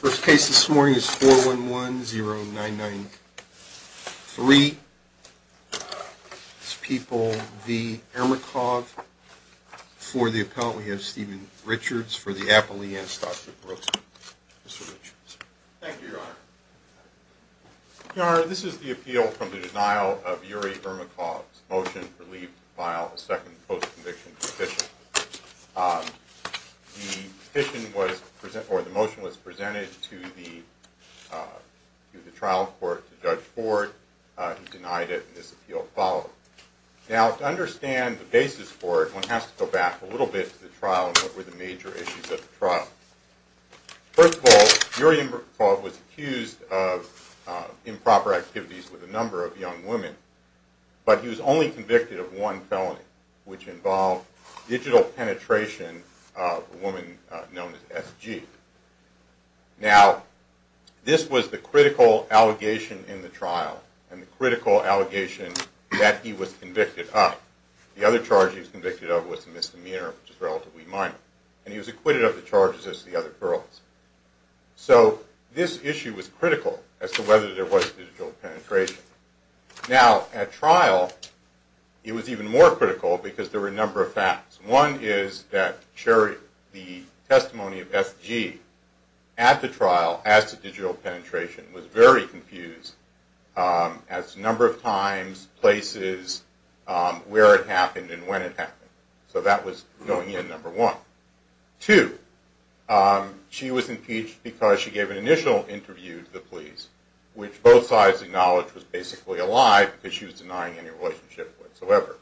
First case this morning is 411-0993. People v. Ermakov. For the appellant, we have Steven Richards. For the appellant, we have Dr. Brooks. Thank you, Your Honor. Your Honor, this is the appeal from the denial of Yuri Ermakov's motion for leave to file a second post-conviction petition. The motion was presented to the trial court to judge Ford. He denied it, and this appeal followed. Now, to understand the basis for it, one has to go back a little bit to the trial and what were the major issues of the trial. First of all, Yuri Ermakov was accused of improper activities with a number of young women, but he was only convicted of one felony, which involved digital penetration of a woman known as S.G. Now, this was the critical allegation in the trial, and the critical allegation that he was convicted of. The other charge he was convicted of was a misdemeanor, which is relatively minor, and he was acquitted of the charges as the other girls. So, this issue was critical as to whether there was digital penetration. Now, at trial, it was even more critical because there were a number of facts. One is that the testimony of S.G. at the trial, as to digital penetration, was very confused as to the number of times, places, where it happened, and when it happened. So, that was going in, number one. Two, she was impeached because she gave an initial interview to the police, which both sides acknowledged was basically a lie because she was denying any relationship whatsoever.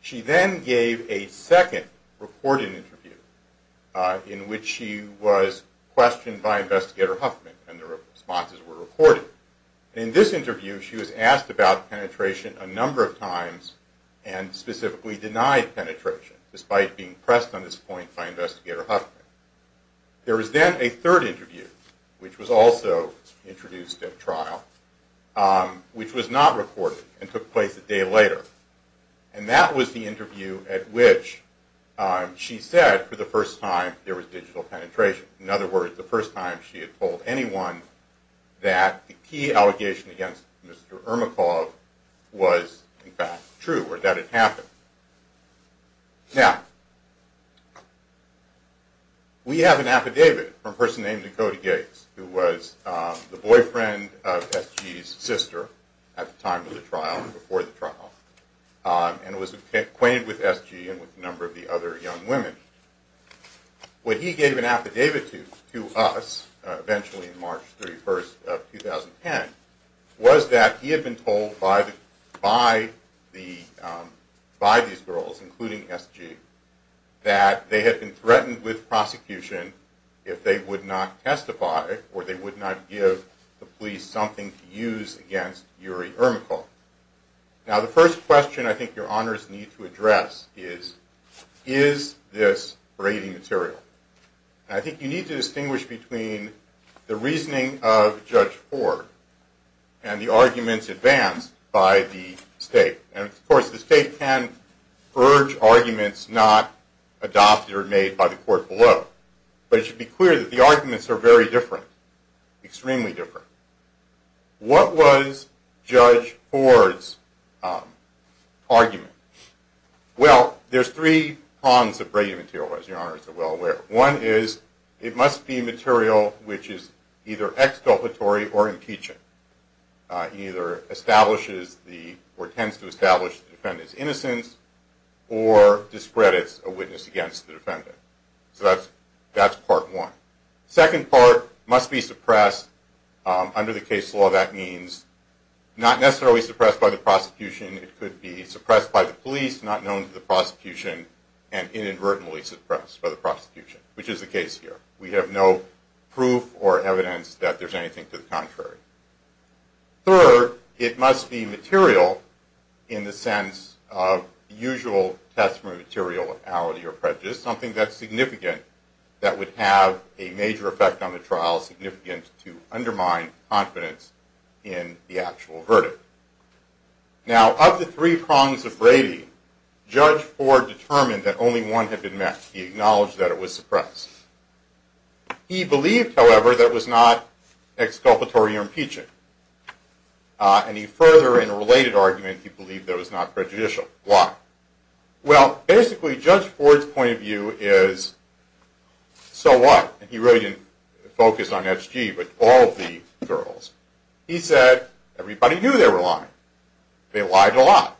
She then gave a second, recorded interview, in which she was questioned by Investigator Huffman, and the responses were recorded. In this interview, she was asked about penetration a number of times, and specifically denied penetration, despite being pressed on this point by Investigator Huffman. There was then a third interview, which was also introduced at trial, which was not recorded, and took place a day later. And that was the interview at which she said, for the first time, there was digital penetration. In other words, the first time she had told anyone that the key allegation against Mr. Ermakov was, in fact, true, or that it happened. Now, we have an affidavit from a person named Dakota Gates, who was the boyfriend of S.G.'s sister, at the time of the trial and before the trial, and was acquainted with S.G. and with a number of the other young women. What he gave an affidavit to us, eventually on March 31st of 2010, was that he had been told by these girls, including S.G., that they had been threatened with prosecution if they would not testify, or they would not give the police something to use against Yuri Ermakov. Now, the first question I think your honors need to address is, is this braiding material? And I think you need to distinguish between the reasoning of Judge Ford and the arguments advanced by the state. And, of course, the state can urge arguments not adopted or made by the court below. But it should be clear that the arguments are very different, extremely different. What was Judge Ford's argument? Well, there's three prongs of braiding material, as your honors are well aware. One is, it must be material which is either exculpatory or impeaching. It either establishes the, or tends to establish the defendant's innocence, or discredits a witness against the defendant. So that's part one. Second part, must be suppressed. Under the case law, that means not necessarily suppressed by the prosecution. It could be suppressed by the police, not known to the prosecution, and inadvertently suppressed by the prosecution, which is the case here. We have no proof or evidence that there's anything to the contrary. Third, it must be material in the sense of usual testimony of materiality or prejudice, something that's significant, that would have a major effect on the trial, significant to undermine confidence in the actual verdict. Now, of the three prongs of braiding, Judge Ford determined that only one had been met. He acknowledged that it was suppressed. He believed, however, that it was not exculpatory or impeaching. And he further, in a related argument, he believed that it was not prejudicial. Why? Well, basically, Judge Ford's point of view is, so what? He really didn't focus on SG, but all the girls. He said, everybody knew they were lying. They lied a lot.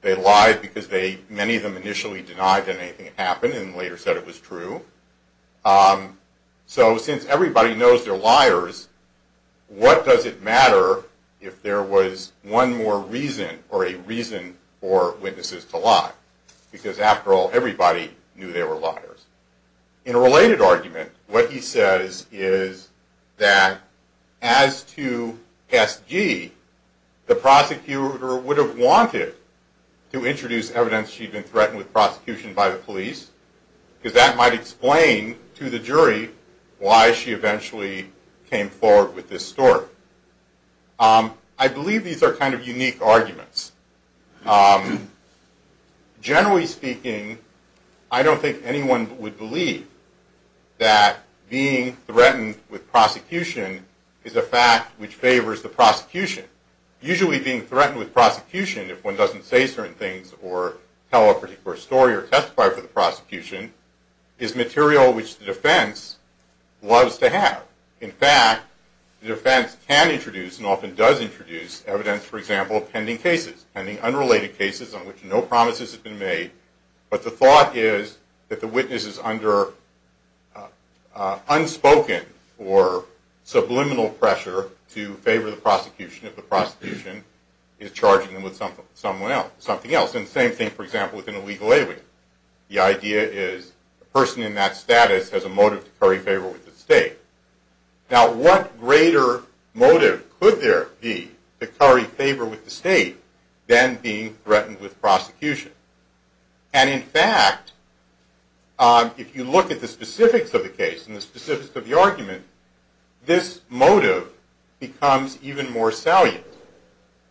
They lied because many of them initially denied that anything happened, and later said it was true. So, since everybody knows they're liars, what does it matter if there was one more reason or a reason for witnesses to lie? Because, after all, everybody knew they were liars. In a related argument, what he says is that, as to SG, the prosecutor would have wanted to introduce evidence she'd been threatened with prosecution by the police, because that might explain to the jury why she eventually came forward with this story. I believe these are kind of unique arguments. Generally speaking, I don't think anyone would believe that being threatened with prosecution is a fact which favors the prosecution. Usually, being threatened with prosecution, if one doesn't say certain things or tell a particular story or testify for the prosecution, is material which the defense loves to have. In fact, the defense can introduce and often does introduce evidence, for example, of pending cases, pending unrelated cases on which no promises have been made, but the thought is that the witness is under unspoken or subliminal pressure to favor the prosecution. The prosecution is charging them with something else. The same thing, for example, with an illegal alien. The idea is the person in that status has a motive to curry favor with the state. Now, what greater motive could there be to curry favor with the state than being threatened with prosecution? And, in fact, if you look at the specifics of the case and the specifics of the argument, this motive becomes even more salient,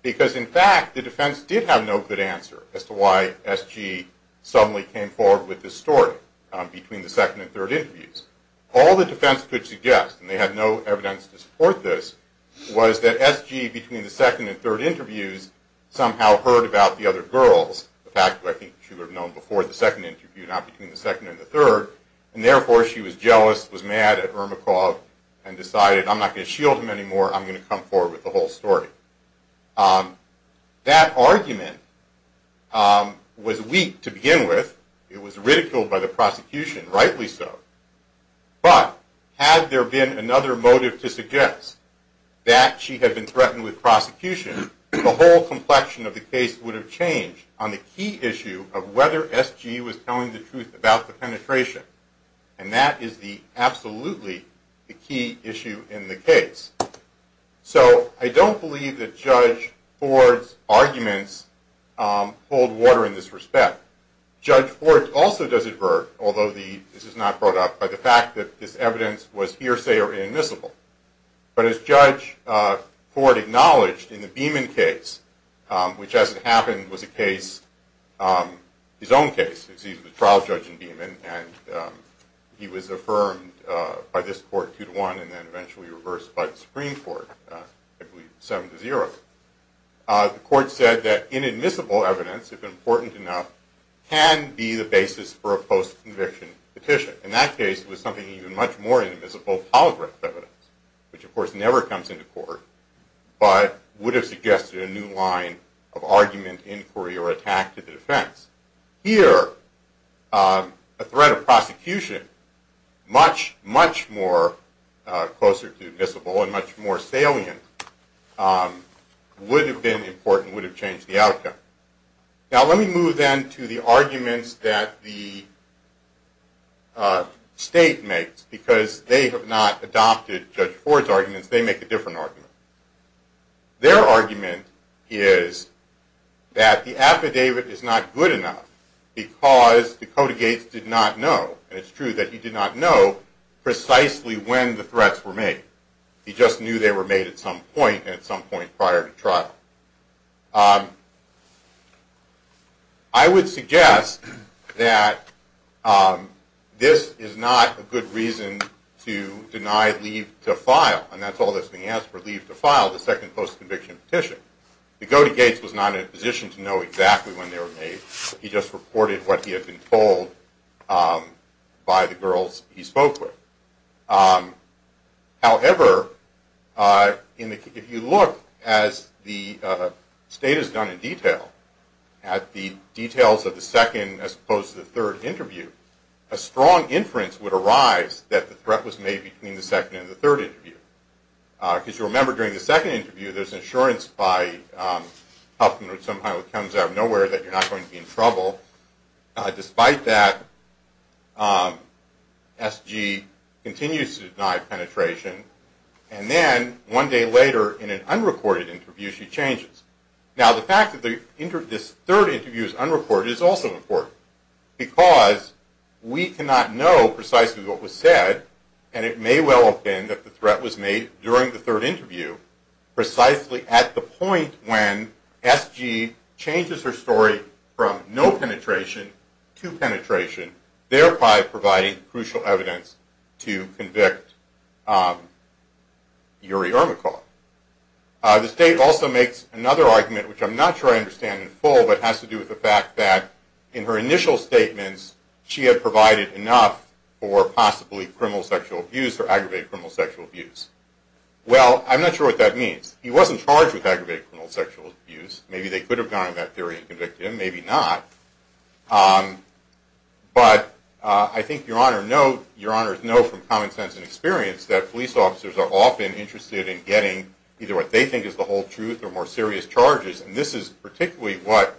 because, in fact, the defense did have no good answer as to why S.G. suddenly came forward with this story between the second and third interviews. All the defense could suggest, and they had no evidence to support this, was that S.G. between the second and third interviews somehow heard about the other girls, a fact which I think she would have known before the second interview, not between the second and the third, and therefore she was jealous, was mad at Ermakov, and decided, I'm not going to shield him anymore, I'm going to come forward with the whole story. That argument was weak to begin with. It was ridiculed by the prosecution, rightly so. But, had there been another motive to suggest that she had been threatened with prosecution, the whole complexion of the case would have changed on the key issue of whether S.G. was telling the truth about the penetration. And that is absolutely the key issue in the case. So, I don't believe that Judge Ford's arguments hold water in this respect. Judge Ford also does advert, although this is not brought up, by the fact that this evidence was hearsay or inadmissible. But as Judge Ford acknowledged in the Beeman case, which as it happened was a case, his own case, he was a trial judge in Beeman, and he was affirmed by this court two to one, and then eventually reversed by the Supreme Court, seven to zero. The court said that inadmissible evidence, if important enough, can be the basis for a post-conviction petition. In that case, it was something even much more inadmissible, polygraph evidence, which of course never comes into court, but would have suggested a new line of argument, inquiry, or attack to the defense. Here, a threat of prosecution much, much more closer to admissible and much more salient would have been important, would have changed the outcome. Now, let me move then to the arguments that the state makes, because they have not adopted Judge Ford's arguments. They make a different argument. Their argument is that the affidavit is not good enough because Dakota Gates did not know, and it's true that he did not know precisely when the threats were made. He just knew they were made at some point, and at some point prior to trial. I would suggest that this is not a good reason to deny leave to file, and that's all that's being asked for, leave to file the second post-conviction petition. Dakota Gates was not in a position to know exactly when they were made. He just reported what he had been told by the girls he spoke with. However, if you look, as the state has done in detail, at the details of the second as opposed to the third interview, a strong inference would arise that the threat was made between the second and the third interview. Because you remember during the second interview, there's an assurance by Huffman, or somehow it comes out of nowhere, that you're not going to be in trouble. Despite that, SG continues to deny penetration. And then, one day later, in an unrecorded interview, she changes. Now, the fact that this third interview is unrecorded is also important, because we cannot know precisely what was said, and it may well have been that the threat was made during the third interview, precisely at the point when SG changes her story from no penetration to penetration, thereby providing crucial evidence to convict Yuri Ermakov. The state also makes another argument, which I'm not sure I understand in full, but has to do with the fact that in her initial statements, she had provided enough for possibly criminal sexual abuse or aggravated criminal sexual abuse. Well, I'm not sure what that means. He wasn't charged with aggravated criminal sexual abuse. Maybe they could have gone on that theory and convicted him, maybe not. But I think Your Honor knows from common sense and experience that police officers are often interested in getting either what they think is the whole truth or more serious charges. And this is particularly what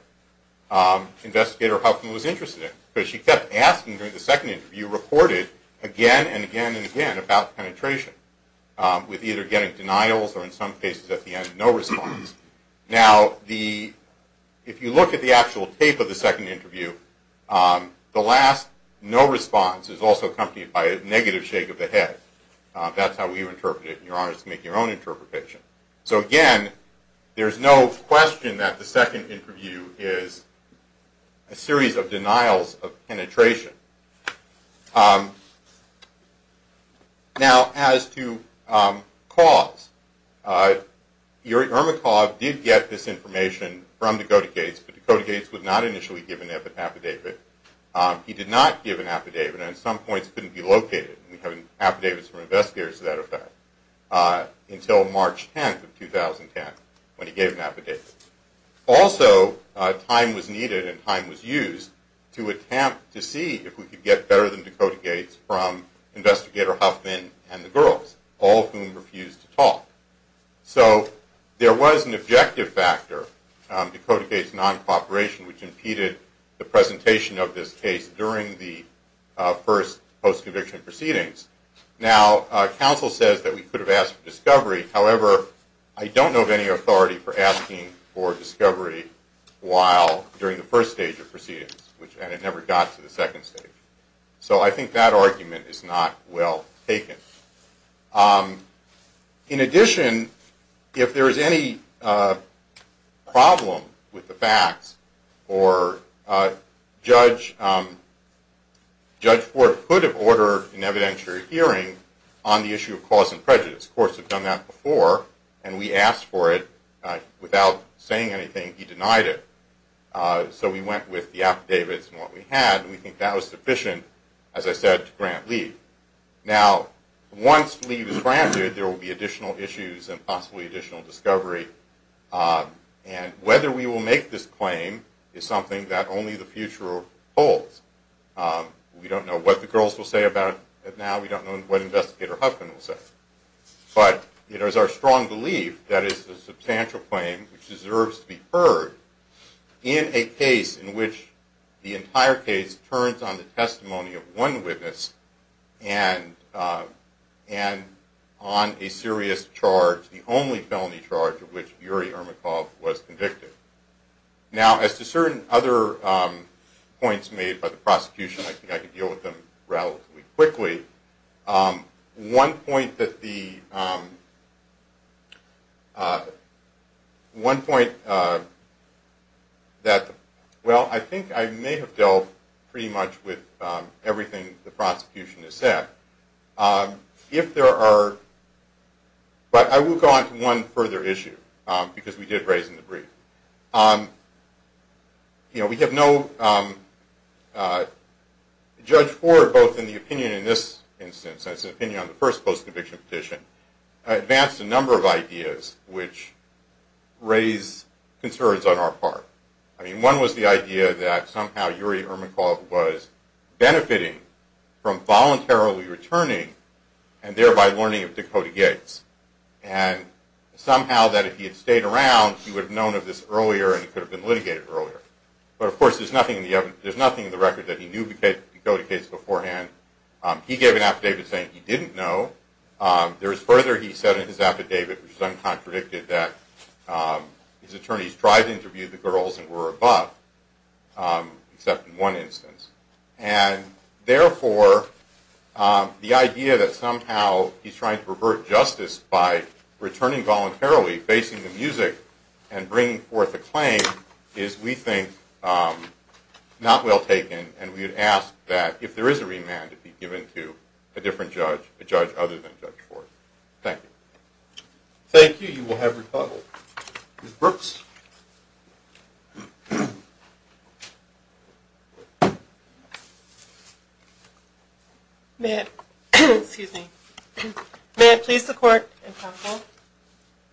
Investigator Huffman was interested in, because she kept asking during the second interview, reported again and again and again about penetration, with either getting denials or, in some cases, at the end, no response. Now, if you look at the actual tape of the second interview, the last no response is also accompanied by a negative shake of the head. That's how we interpret it, and Your Honor has to make your own interpretation. So, again, there's no question that the second interview is a series of denials of penetration. Now, as to cause, Ermakov did get this information from Dakota Gates, but Dakota Gates would not initially give an affidavit. He did not give an affidavit, and at some points couldn't be located. We have affidavits from investigators to that effect, until March 10th of 2010, when he gave an affidavit. Also, time was needed and time was used to attempt to see if we could get better than Dakota Gates from Investigator Huffman and the girls, all of whom refused to talk. So there was an objective factor, Dakota Gates' non-cooperation, which impeded the presentation of this case during the first post-conviction proceedings. Now, counsel says that we could have asked for discovery. However, I don't know of any authority for asking for discovery during the first stage of proceedings, and it never got to the second stage. So I think that argument is not well taken. In addition, if there is any problem with the facts, or Judge Ford could have ordered an evidentiary hearing on the issue of cause and prejudice. Courts have done that before, and we asked for it. Without saying anything, he denied it. So we went with the affidavits and what we had, and we think that was sufficient, as I said, to grant leave. Now, once leave is granted, there will be additional issues and possibly additional discovery. And whether we will make this claim is something that only the future holds. We don't know what the girls will say about it now. We don't know what Investigator Huffman will say. But it is our strong belief that it is a substantial claim which deserves to be heard in a case in which the entire case turns on the testimony of one witness and on a serious charge, the only felony charge of which Yuri Ermakov was convicted. Now, as to certain other points made by the prosecution, I think I can deal with them relatively quickly. One point that the... One point that... Well, I think I may have dealt pretty much with everything the prosecution has said. If there are... But I will go on to one further issue, because we did raise in the brief. You know, we have no... Judge Ford, both in the opinion in this instance and his opinion on the first post-conviction petition, advanced a number of ideas which raise concerns on our part. I mean, one was the idea that somehow Yuri Ermakov was benefiting from voluntarily returning and thereby learning of Dakota Gates. And somehow that if he had stayed around, he would have known of this earlier and he could have been litigated earlier. But, of course, there is nothing in the record that he knew Dakota Gates beforehand. He gave an affidavit saying he didn't know. There is further, he said in his affidavit, which is uncontradicted, that his attorneys tried to interview the girls and were above, except in one instance. And, therefore, the idea that somehow he's trying to revert justice by returning voluntarily, facing the music, and bringing forth a claim is, we think, not well taken. And we would ask that if there is a remand, it be given to a different judge, a judge other than Judge Ford. Thank you. Thank you. You will have rebuttal. Ms. Brooks? May I, excuse me, may I please the court and counsel?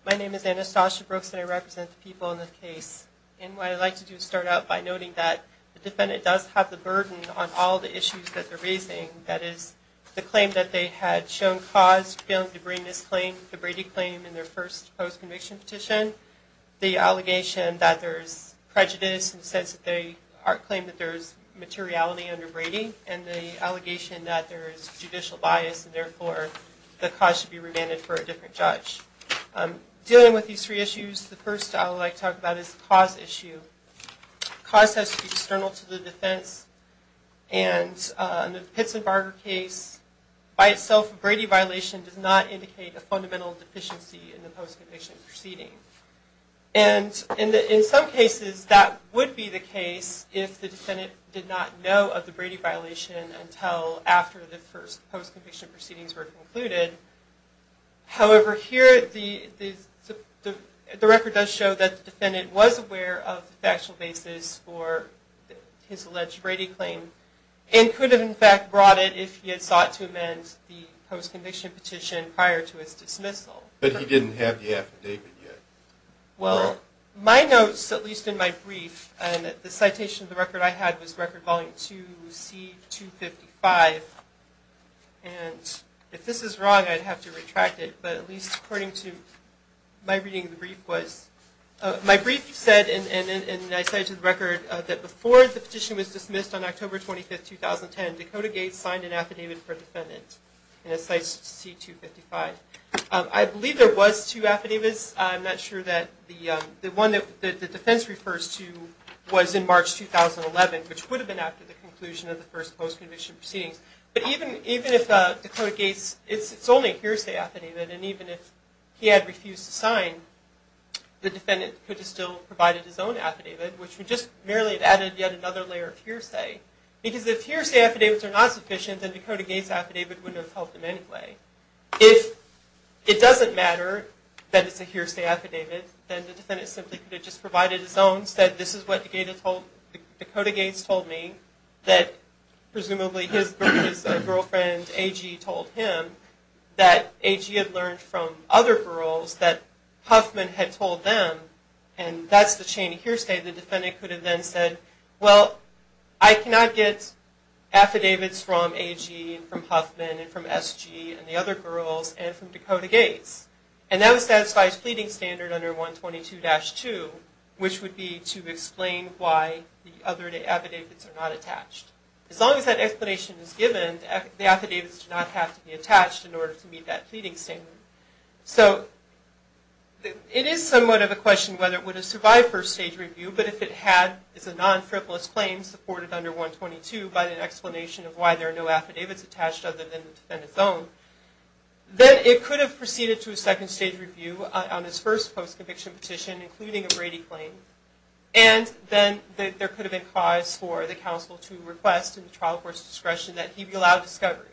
My name is Anastasia Brooks and I represent the people in this case. And what I'd like to do is start out by noting that the defendant does have the burden on all the issues that they're raising. That is, the claim that they had shown cause, failing to bring this claim, the Brady claim in their first post-conviction petition, the allegation that there's prejudice in the sense that they claim that there's materiality under Brady, and the allegation that there is judicial bias, and, therefore, the cause should be remanded for a different judge. Dealing with these three issues, the first I would like to talk about is the cause issue. Cause has to be external to the defense. And in the Pitts and Barger case, by itself, a Brady violation does not indicate a fundamental deficiency in the post-conviction proceeding. And in some cases, that would be the case if the defendant did not know of the Brady violation until after the first post-conviction proceedings were concluded. However, here the record does show that the defendant was aware of the factual basis for his alleged Brady claim and could have, in fact, brought it if he had sought to amend the post-conviction petition prior to his dismissal. But he didn't have the affidavit yet. Well, my notes, at least in my brief, and the citation of the record I had was record volume 2, C255. And if this is wrong, I'd have to retract it. But at least according to my reading of the brief, my brief said, and I cited the record, that before the petition was dismissed on October 25th, 2010, Dakota Gates signed an affidavit for defendant in a C255. I believe there was two affidavits. I'm not sure that the one that the defense refers to was in March 2011, which would have been after the conclusion of the first post-conviction proceedings. But even if Dakota Gates, it's only a hearsay affidavit, and even if he had refused to sign, the defendant could have still provided his own affidavit, which would just merely have added yet another layer of hearsay. Because if hearsay affidavits are not sufficient, then Dakota Gates' affidavit wouldn't have helped him anyway. If it doesn't matter that it's a hearsay affidavit, then the defendant simply could have just provided his own, said this is what Dakota Gates told me, that presumably his girlfriend, A.G., told him, that A.G. had learned from other girls that Huffman had told them, and that's the chain of hearsay. The defendant could have then said, well, I cannot get affidavits from A.G., and from Huffman, and from S.G., and the other girls, and from Dakota Gates. And that would satisfy his pleading standard under 122-2, which would be to explain why the other affidavits are not attached. As long as that explanation is given, the affidavits do not have to be attached in order to meet that pleading standard. So it is somewhat of a question whether it would have survived first stage review, but if it had, it's a non-frivolous claim supported under 122, but an explanation of why there are no affidavits attached other than the defendant's own, then it could have proceeded to a second stage review on his first post-conviction petition, including a Brady claim. And then there could have been cause for the counsel to request in the trial court's discretion that he be allowed discovery.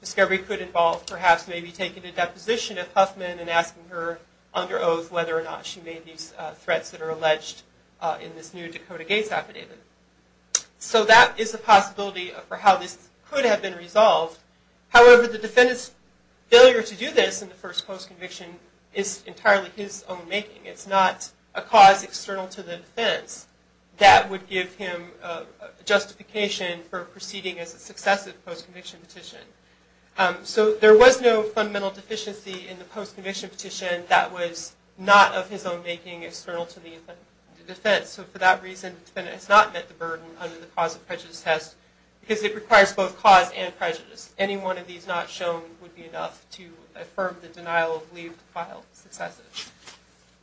Discovery could involve perhaps maybe taking a deposition of Huffman and asking her under oath whether or not she made these threats that are alleged in this new Dakota Gates affidavit. So that is a possibility for how this could have been resolved. However, the defendant's failure to do this in the first post-conviction is entirely his own making. It's not a cause external to the defense that would give him justification for proceeding as a successive post-conviction petition. So there was no fundamental deficiency in the post-conviction petition that was not of his own making external to the defense. So for that reason, the defendant has not met the burden under the cause of prejudice test, because it requires both cause and prejudice. Any one of these not shown would be enough to affirm the denial of leave to file successive.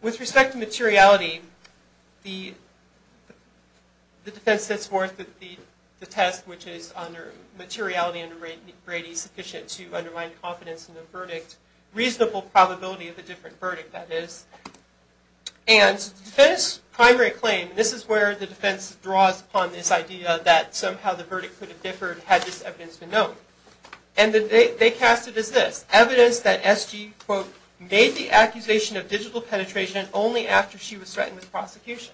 With respect to materiality, the defense sets forth the test, which is materiality under Brady sufficient to undermine confidence in the verdict, reasonable probability of a different verdict, that is. And the defense's primary claim, this is where the defense draws upon this idea that somehow the verdict could have differed had this evidence been known. And they cast it as this, evidence that S.G., quote, made the accusation of digital penetration only after she was threatened with prosecution.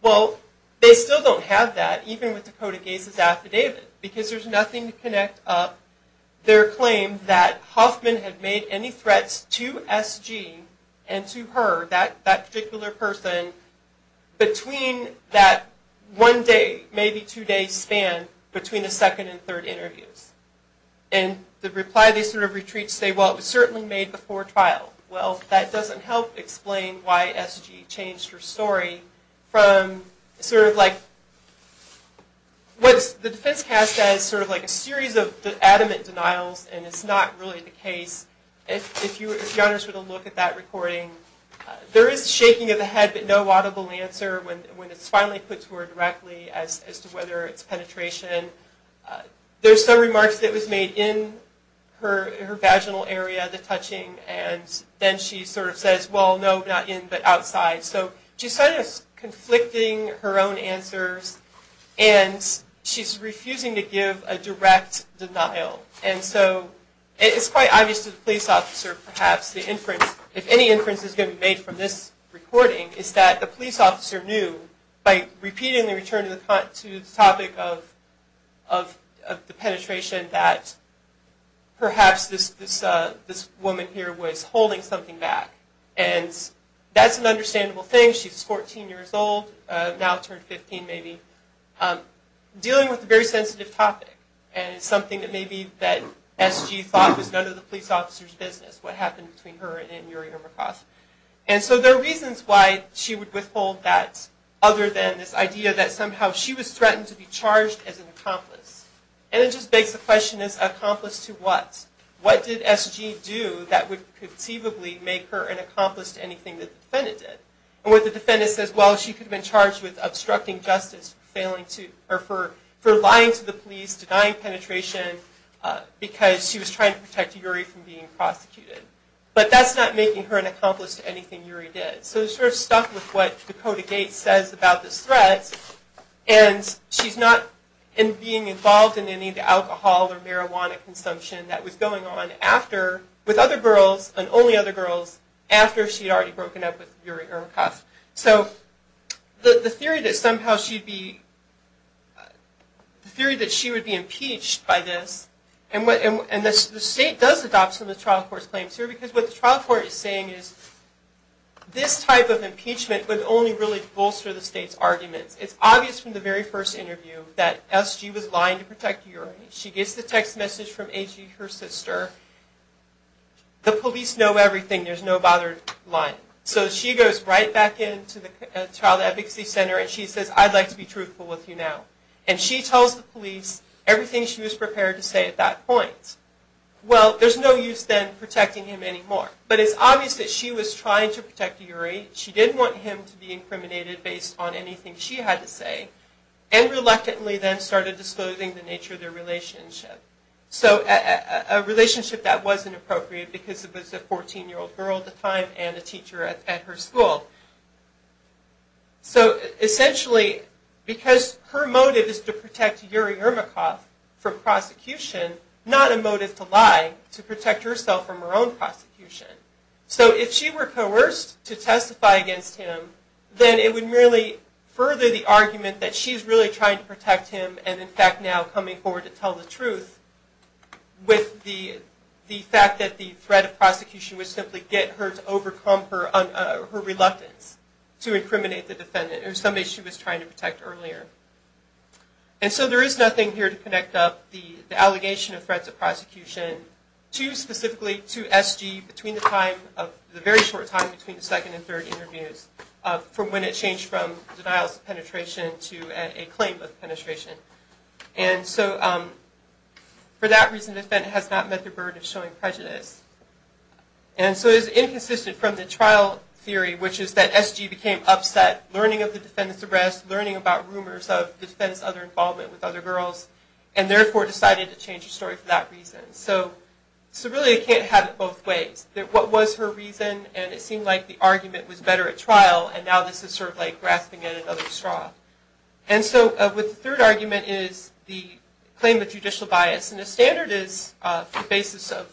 Well, they still don't have that, even with Dakota Gase's affidavit, because there's nothing to connect up their claim that Hoffman had made any threats to S.G. and to her, that particular person, between that one-day, maybe two-day span between the second and third interviews. And the reply they sort of retreat, say, well, it was certainly made before trial. Well, that doesn't help explain why S.G. changed her story from sort of like, what the defense casts as sort of like a series of adamant denials, and it's not really the case. If you were to be honest with a look at that recording, there is shaking of the head but no audible answer when it's finally put to her directly as to whether it's penetration. There's some remarks that was made in her vaginal area, the touching, and then she sort of says, well, no, not in, but outside. So she's sort of conflicting her own answers, and she's refusing to give a direct denial. And so it's quite obvious to the police officer, perhaps, if any inference is going to be made from this recording, is that the police officer knew by repeatedly returning to the topic of the penetration that perhaps this woman here was holding something back. And that's an understandable thing. She's 14 years old, now turned 15 maybe, dealing with a very sensitive topic. And it's something that maybe that S.G. thought was none of the police officer's business, what happened between her and Anne-Marie Hermacost. And so there are reasons why she would withhold that, other than this idea that somehow she was threatened to be charged as an accomplice. And it just begs the question, as an accomplice to what? What did S.G. do that would conceivably make her an accomplice to anything that the defendant did? And what the defendant says, well, she could have been charged with obstructing justice, for lying to the police, denying penetration, because she was trying to protect Uri from being prosecuted. But that's not making her an accomplice to anything Uri did. So we're sort of stuck with what Dakota Gates says about this threat, and she's not being involved in any of the alcohol or marijuana consumption that was going on after, with other girls, and only other girls, after she had already broken up with Uri Hermacost. So the theory that somehow she'd be, the theory that she would be impeached by this, and the state does adopt some of the trial court's claims here, because what the trial court is saying is, this type of impeachment would only really bolster the state's arguments. It's obvious from the very first interview that S.G. was lying to protect Uri. She gets the text message from A.G., her sister, the police know everything, there's no bothered lying. So she goes right back into the child advocacy center, and she says, I'd like to be truthful with you now. And she tells the police everything she was prepared to say at that point. Well, there's no use then protecting him anymore. But it's obvious that she was trying to protect Uri, she didn't want him to be incriminated based on anything she had to say, and reluctantly then started disclosing the nature of their relationship. So a relationship that wasn't appropriate, because it was a 14-year-old girl at the time, and a teacher at her school. So essentially, because her motive is to protect Uri Ermakov from prosecution, not a motive to lie, to protect herself from her own prosecution. So if she were coerced to testify against him, then it would merely further the argument that she's really trying to protect him, and in fact now coming forward to tell the truth, with the fact that the threat of prosecution would simply get her to overcome her reluctance to incriminate the defendant, or somebody she was trying to protect earlier. And so there is nothing here to connect up the allegation of threats of prosecution to specifically to SG between the time, the very short time between the second and third interviews, from when it changed from denials of penetration to a claim of penetration. And so for that reason, the defendant has not met the burden of showing prejudice. And so it is inconsistent from the trial theory, which is that SG became upset learning of the defendant's arrest, learning about rumors of the defendant's other involvement with other girls, and therefore decided to change her story for that reason. So really it can't have it both ways. What was her reason, and it seemed like the argument was better at trial, and now this is sort of like grasping at another straw. And so the third argument is the claim of judicial bias. And the standard is the basis of,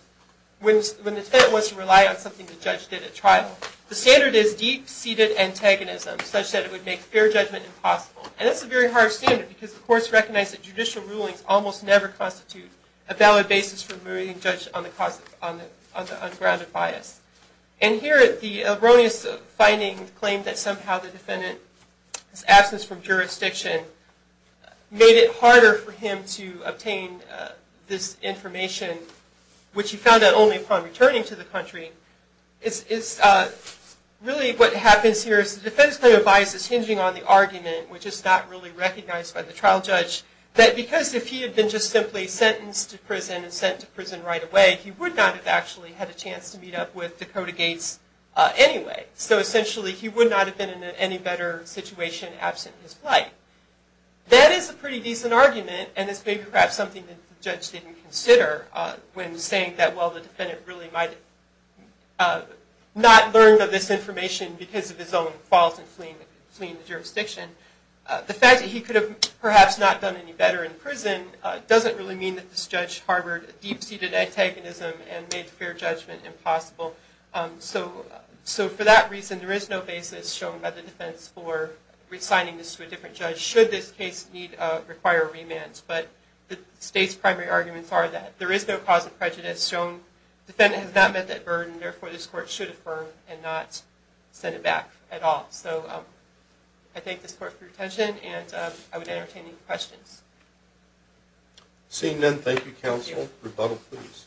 when the defendant wants to rely on something the judge did at trial, the standard is deep-seated antagonism, such that it would make fair judgment impossible. And that's a very hard standard, because the courts recognize that judicial rulings almost never constitute a valid basis for moving a judge on the ungrounded bias. And here the erroneous finding claimed that somehow the defendant's absence from jurisdiction made it harder for him to obtain this information, which he found out only upon returning to the country. Really what happens here is the defense claim of bias is hinging on the argument, which is not really recognized by the trial judge, that because if he had been just simply sentenced to prison and sent to prison right away, he would not have actually had a chance to meet up with Dakota Gates anyway. So essentially he would not have been in any better situation absent his plight. That is a pretty decent argument, and it's maybe perhaps something that the judge didn't consider when saying that while the defendant really might not learn of this information because of his own fault in fleeing the jurisdiction, the fact that he could have perhaps not done any better in prison doesn't really mean that this judge harbored deep-seated antagonism and made fair judgment impossible. So for that reason, there is no basis shown by the defense for assigning this to a different judge should this case require a remand. But the state's primary arguments are that there is no cause of prejudice shown. The defendant has not met that burden, therefore this court should affirm and not send it back at all. So I thank this court for your attention, and I would entertain any questions. Seeing none, thank you, counsel. Rebuttal, please.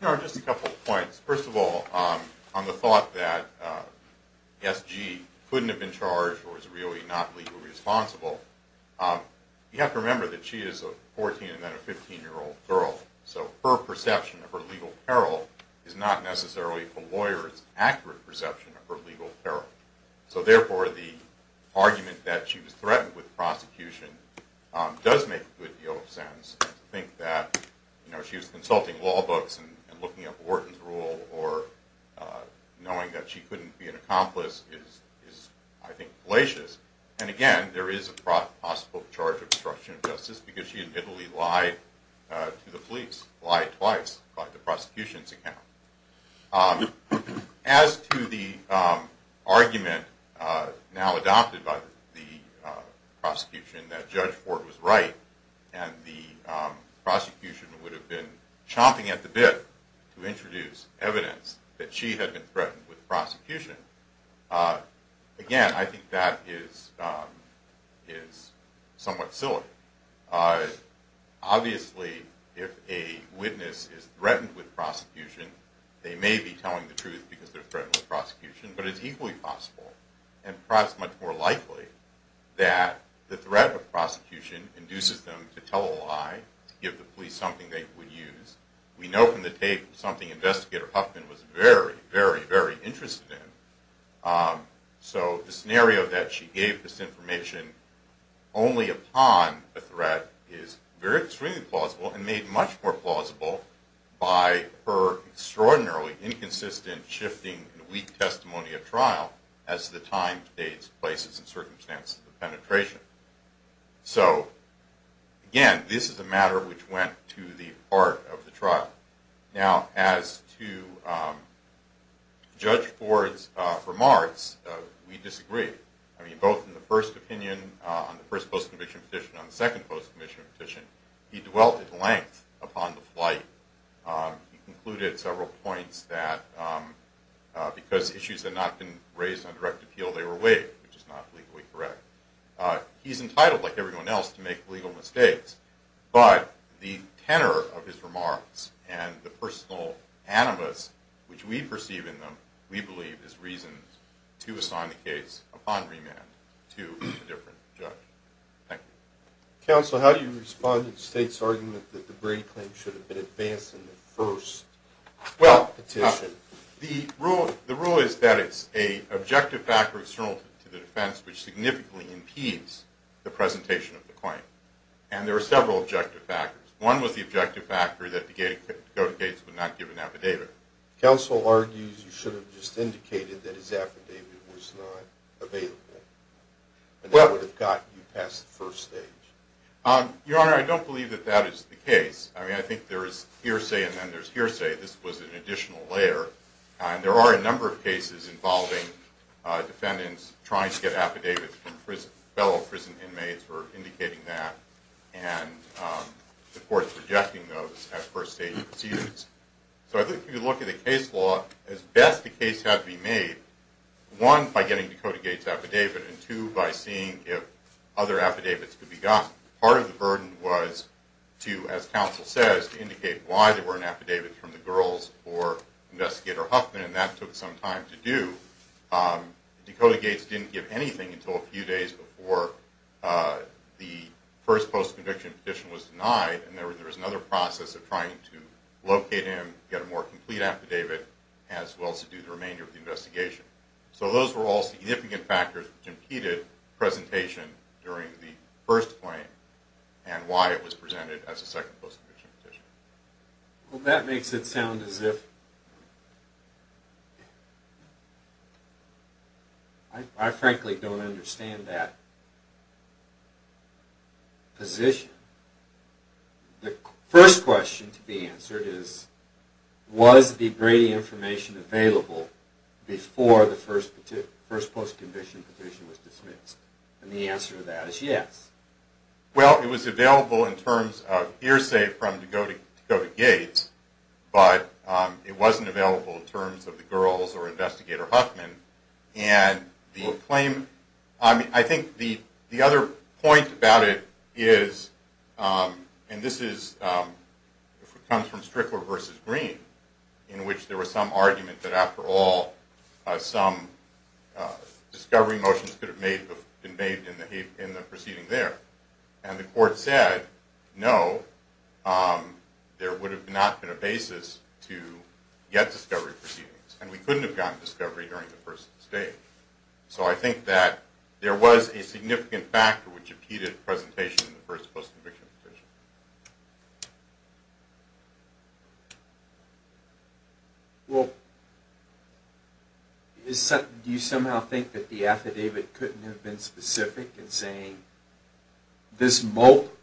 Just a couple of points. First of all, on the thought that S.G. couldn't have been charged or was really not legally responsible, you have to remember that she is a 14 and then a 15-year-old girl, so her perception of her legal peril is not necessarily a lawyer's accurate perception of her legal peril. So therefore the argument that she was threatened with prosecution does make a good deal of sense. To think that she was consulting law books and looking up Wharton's rule or knowing that she couldn't be an accomplice is, I think, fallacious. And again, there is a possible charge of obstruction of justice because she admittedly lied to the police, lied twice by the prosecution's account. As to the argument now adopted by the prosecution that Judge Ford was right and the prosecution would have been chomping at the bit to introduce evidence that she had been threatened with prosecution, again, I think that is somewhat silly. Obviously, if a witness is threatened with prosecution, they may be telling the truth because they're threatened with prosecution, but it's equally possible and perhaps much more likely that the threat of prosecution induces them to tell a lie, give the police something they would use. We know from the tape something Investigator Huffman was very, very, very interested in. So the scenario that she gave this information only upon a threat is very extremely plausible and made much more plausible by her extraordinarily inconsistent, shifting, and weak testimony of trial as the time, dates, places, and circumstances of penetration. So, again, this is a matter which went to the heart of the trial. Now, as to Judge Ford's remarks, we disagree. I mean, both in the first opinion on the first post-conviction petition and the second post-conviction petition, he dwelt at length upon the plight. He concluded several points that because issues had not been raised on direct appeal, they were waived, which is not legally correct. He's entitled, like everyone else, to make legal mistakes, but the tenor of his remarks and the personal animus which we perceive in them, we believe is reason to assign the case upon remand to a different judge. Thank you. Counsel, how do you respond to the State's argument that the Brady claim should have been advanced in the first petition? Well, the rule is that it's an objective factor external to the defense which significantly impedes the presentation of the claim, and there are several objective factors. One was the objective factor that Dakota Gates would not give an affidavit. Counsel argues you should have just indicated that his affidavit was not available, and that would have got you past the first stage. Your Honor, I don't believe that that is the case. I mean, I think there is hearsay and then there's hearsay. This was an additional layer, and there are a number of cases involving defendants trying to get affidavits from prison. Fellow prison inmates were indicating that and the court's rejecting those as first-stage procedures. So I think if you look at the case law, as best the case had to be made, one, by getting Dakota Gates' affidavit, and two, by seeing if other affidavits could be gotten. Part of the burden was to, as counsel says, to indicate why there weren't affidavits from the girls or Investigator Huffman, and that took some time to do. Dakota Gates didn't give anything until a few days before the first post-conviction petition was denied, and there was another process of trying to locate him, get a more complete affidavit, as well as to do the remainder of the investigation. So those were all significant factors which impeded presentation during the first claim and why it was presented as a second post-conviction petition. Well, that makes it sound as if... I frankly don't understand that position. The first question to be answered is, was the Brady information available before the first post-conviction petition was dismissed? And the answer to that is yes. Well, it was available in terms of hearsay from Dakota Gates, but it wasn't available in terms of the girls or Investigator Huffman. I think the other point about it is, and this comes from Strickler v. Green, in which there was some argument that, after all, some discovery motions could have been made in the proceeding there. And the court said no, there would have not been a basis to get discovery proceedings, and we couldn't have gotten discovery during the first stage. So I think that there was a significant factor which impeded presentation in the first post-conviction petition. Well, do you somehow think that the affidavit couldn't have been specific in saying, this mope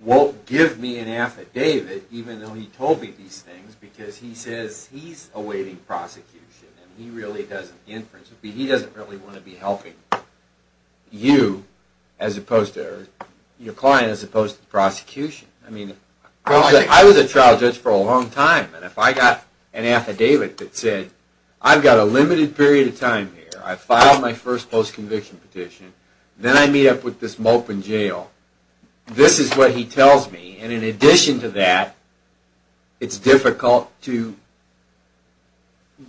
won't give me an affidavit, even though he told me these things, because he says he's awaiting prosecution, and he really doesn't want to be helping you, or your client, as opposed to the prosecution? I mean, I was a trial judge for a long time, and if I got an affidavit that said, I've got a limited period of time here, I filed my first post-conviction petition, then I meet up with this mope in jail, this is what he tells me, and in addition to that, it's difficult to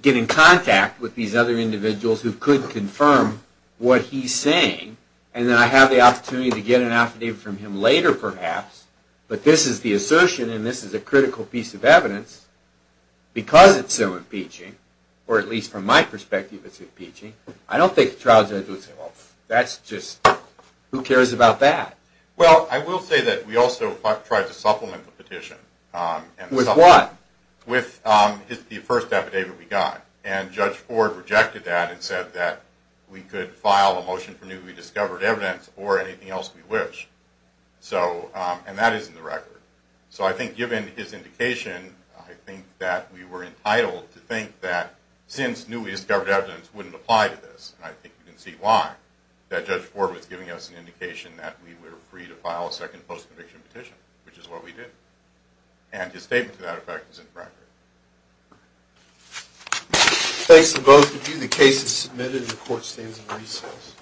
get in contact with these other individuals who could confirm what he's saying, and then I have the opportunity to get an affidavit from him later, perhaps, but this is the assertion, and this is a critical piece of evidence, because it's so impeaching, or at least from my perspective it's impeaching, I don't think a trial judge would say, well, that's just, who cares about that? Well, I will say that we also tried to supplement the petition. With what? With the first affidavit we got, and Judge Ford rejected that, and said that we could file a motion for newly discovered evidence, or anything else we wish, and that is in the record, so I think given his indication, I think that we were entitled to think that, since newly discovered evidence wouldn't apply to this, and I think you can see why, that Judge Ford was giving us an indication that we were free to file a second post-conviction petition, which is what we did, and his statement to that effect is in the record. Thanks to both of you. The case is submitted, and the court stands in recess.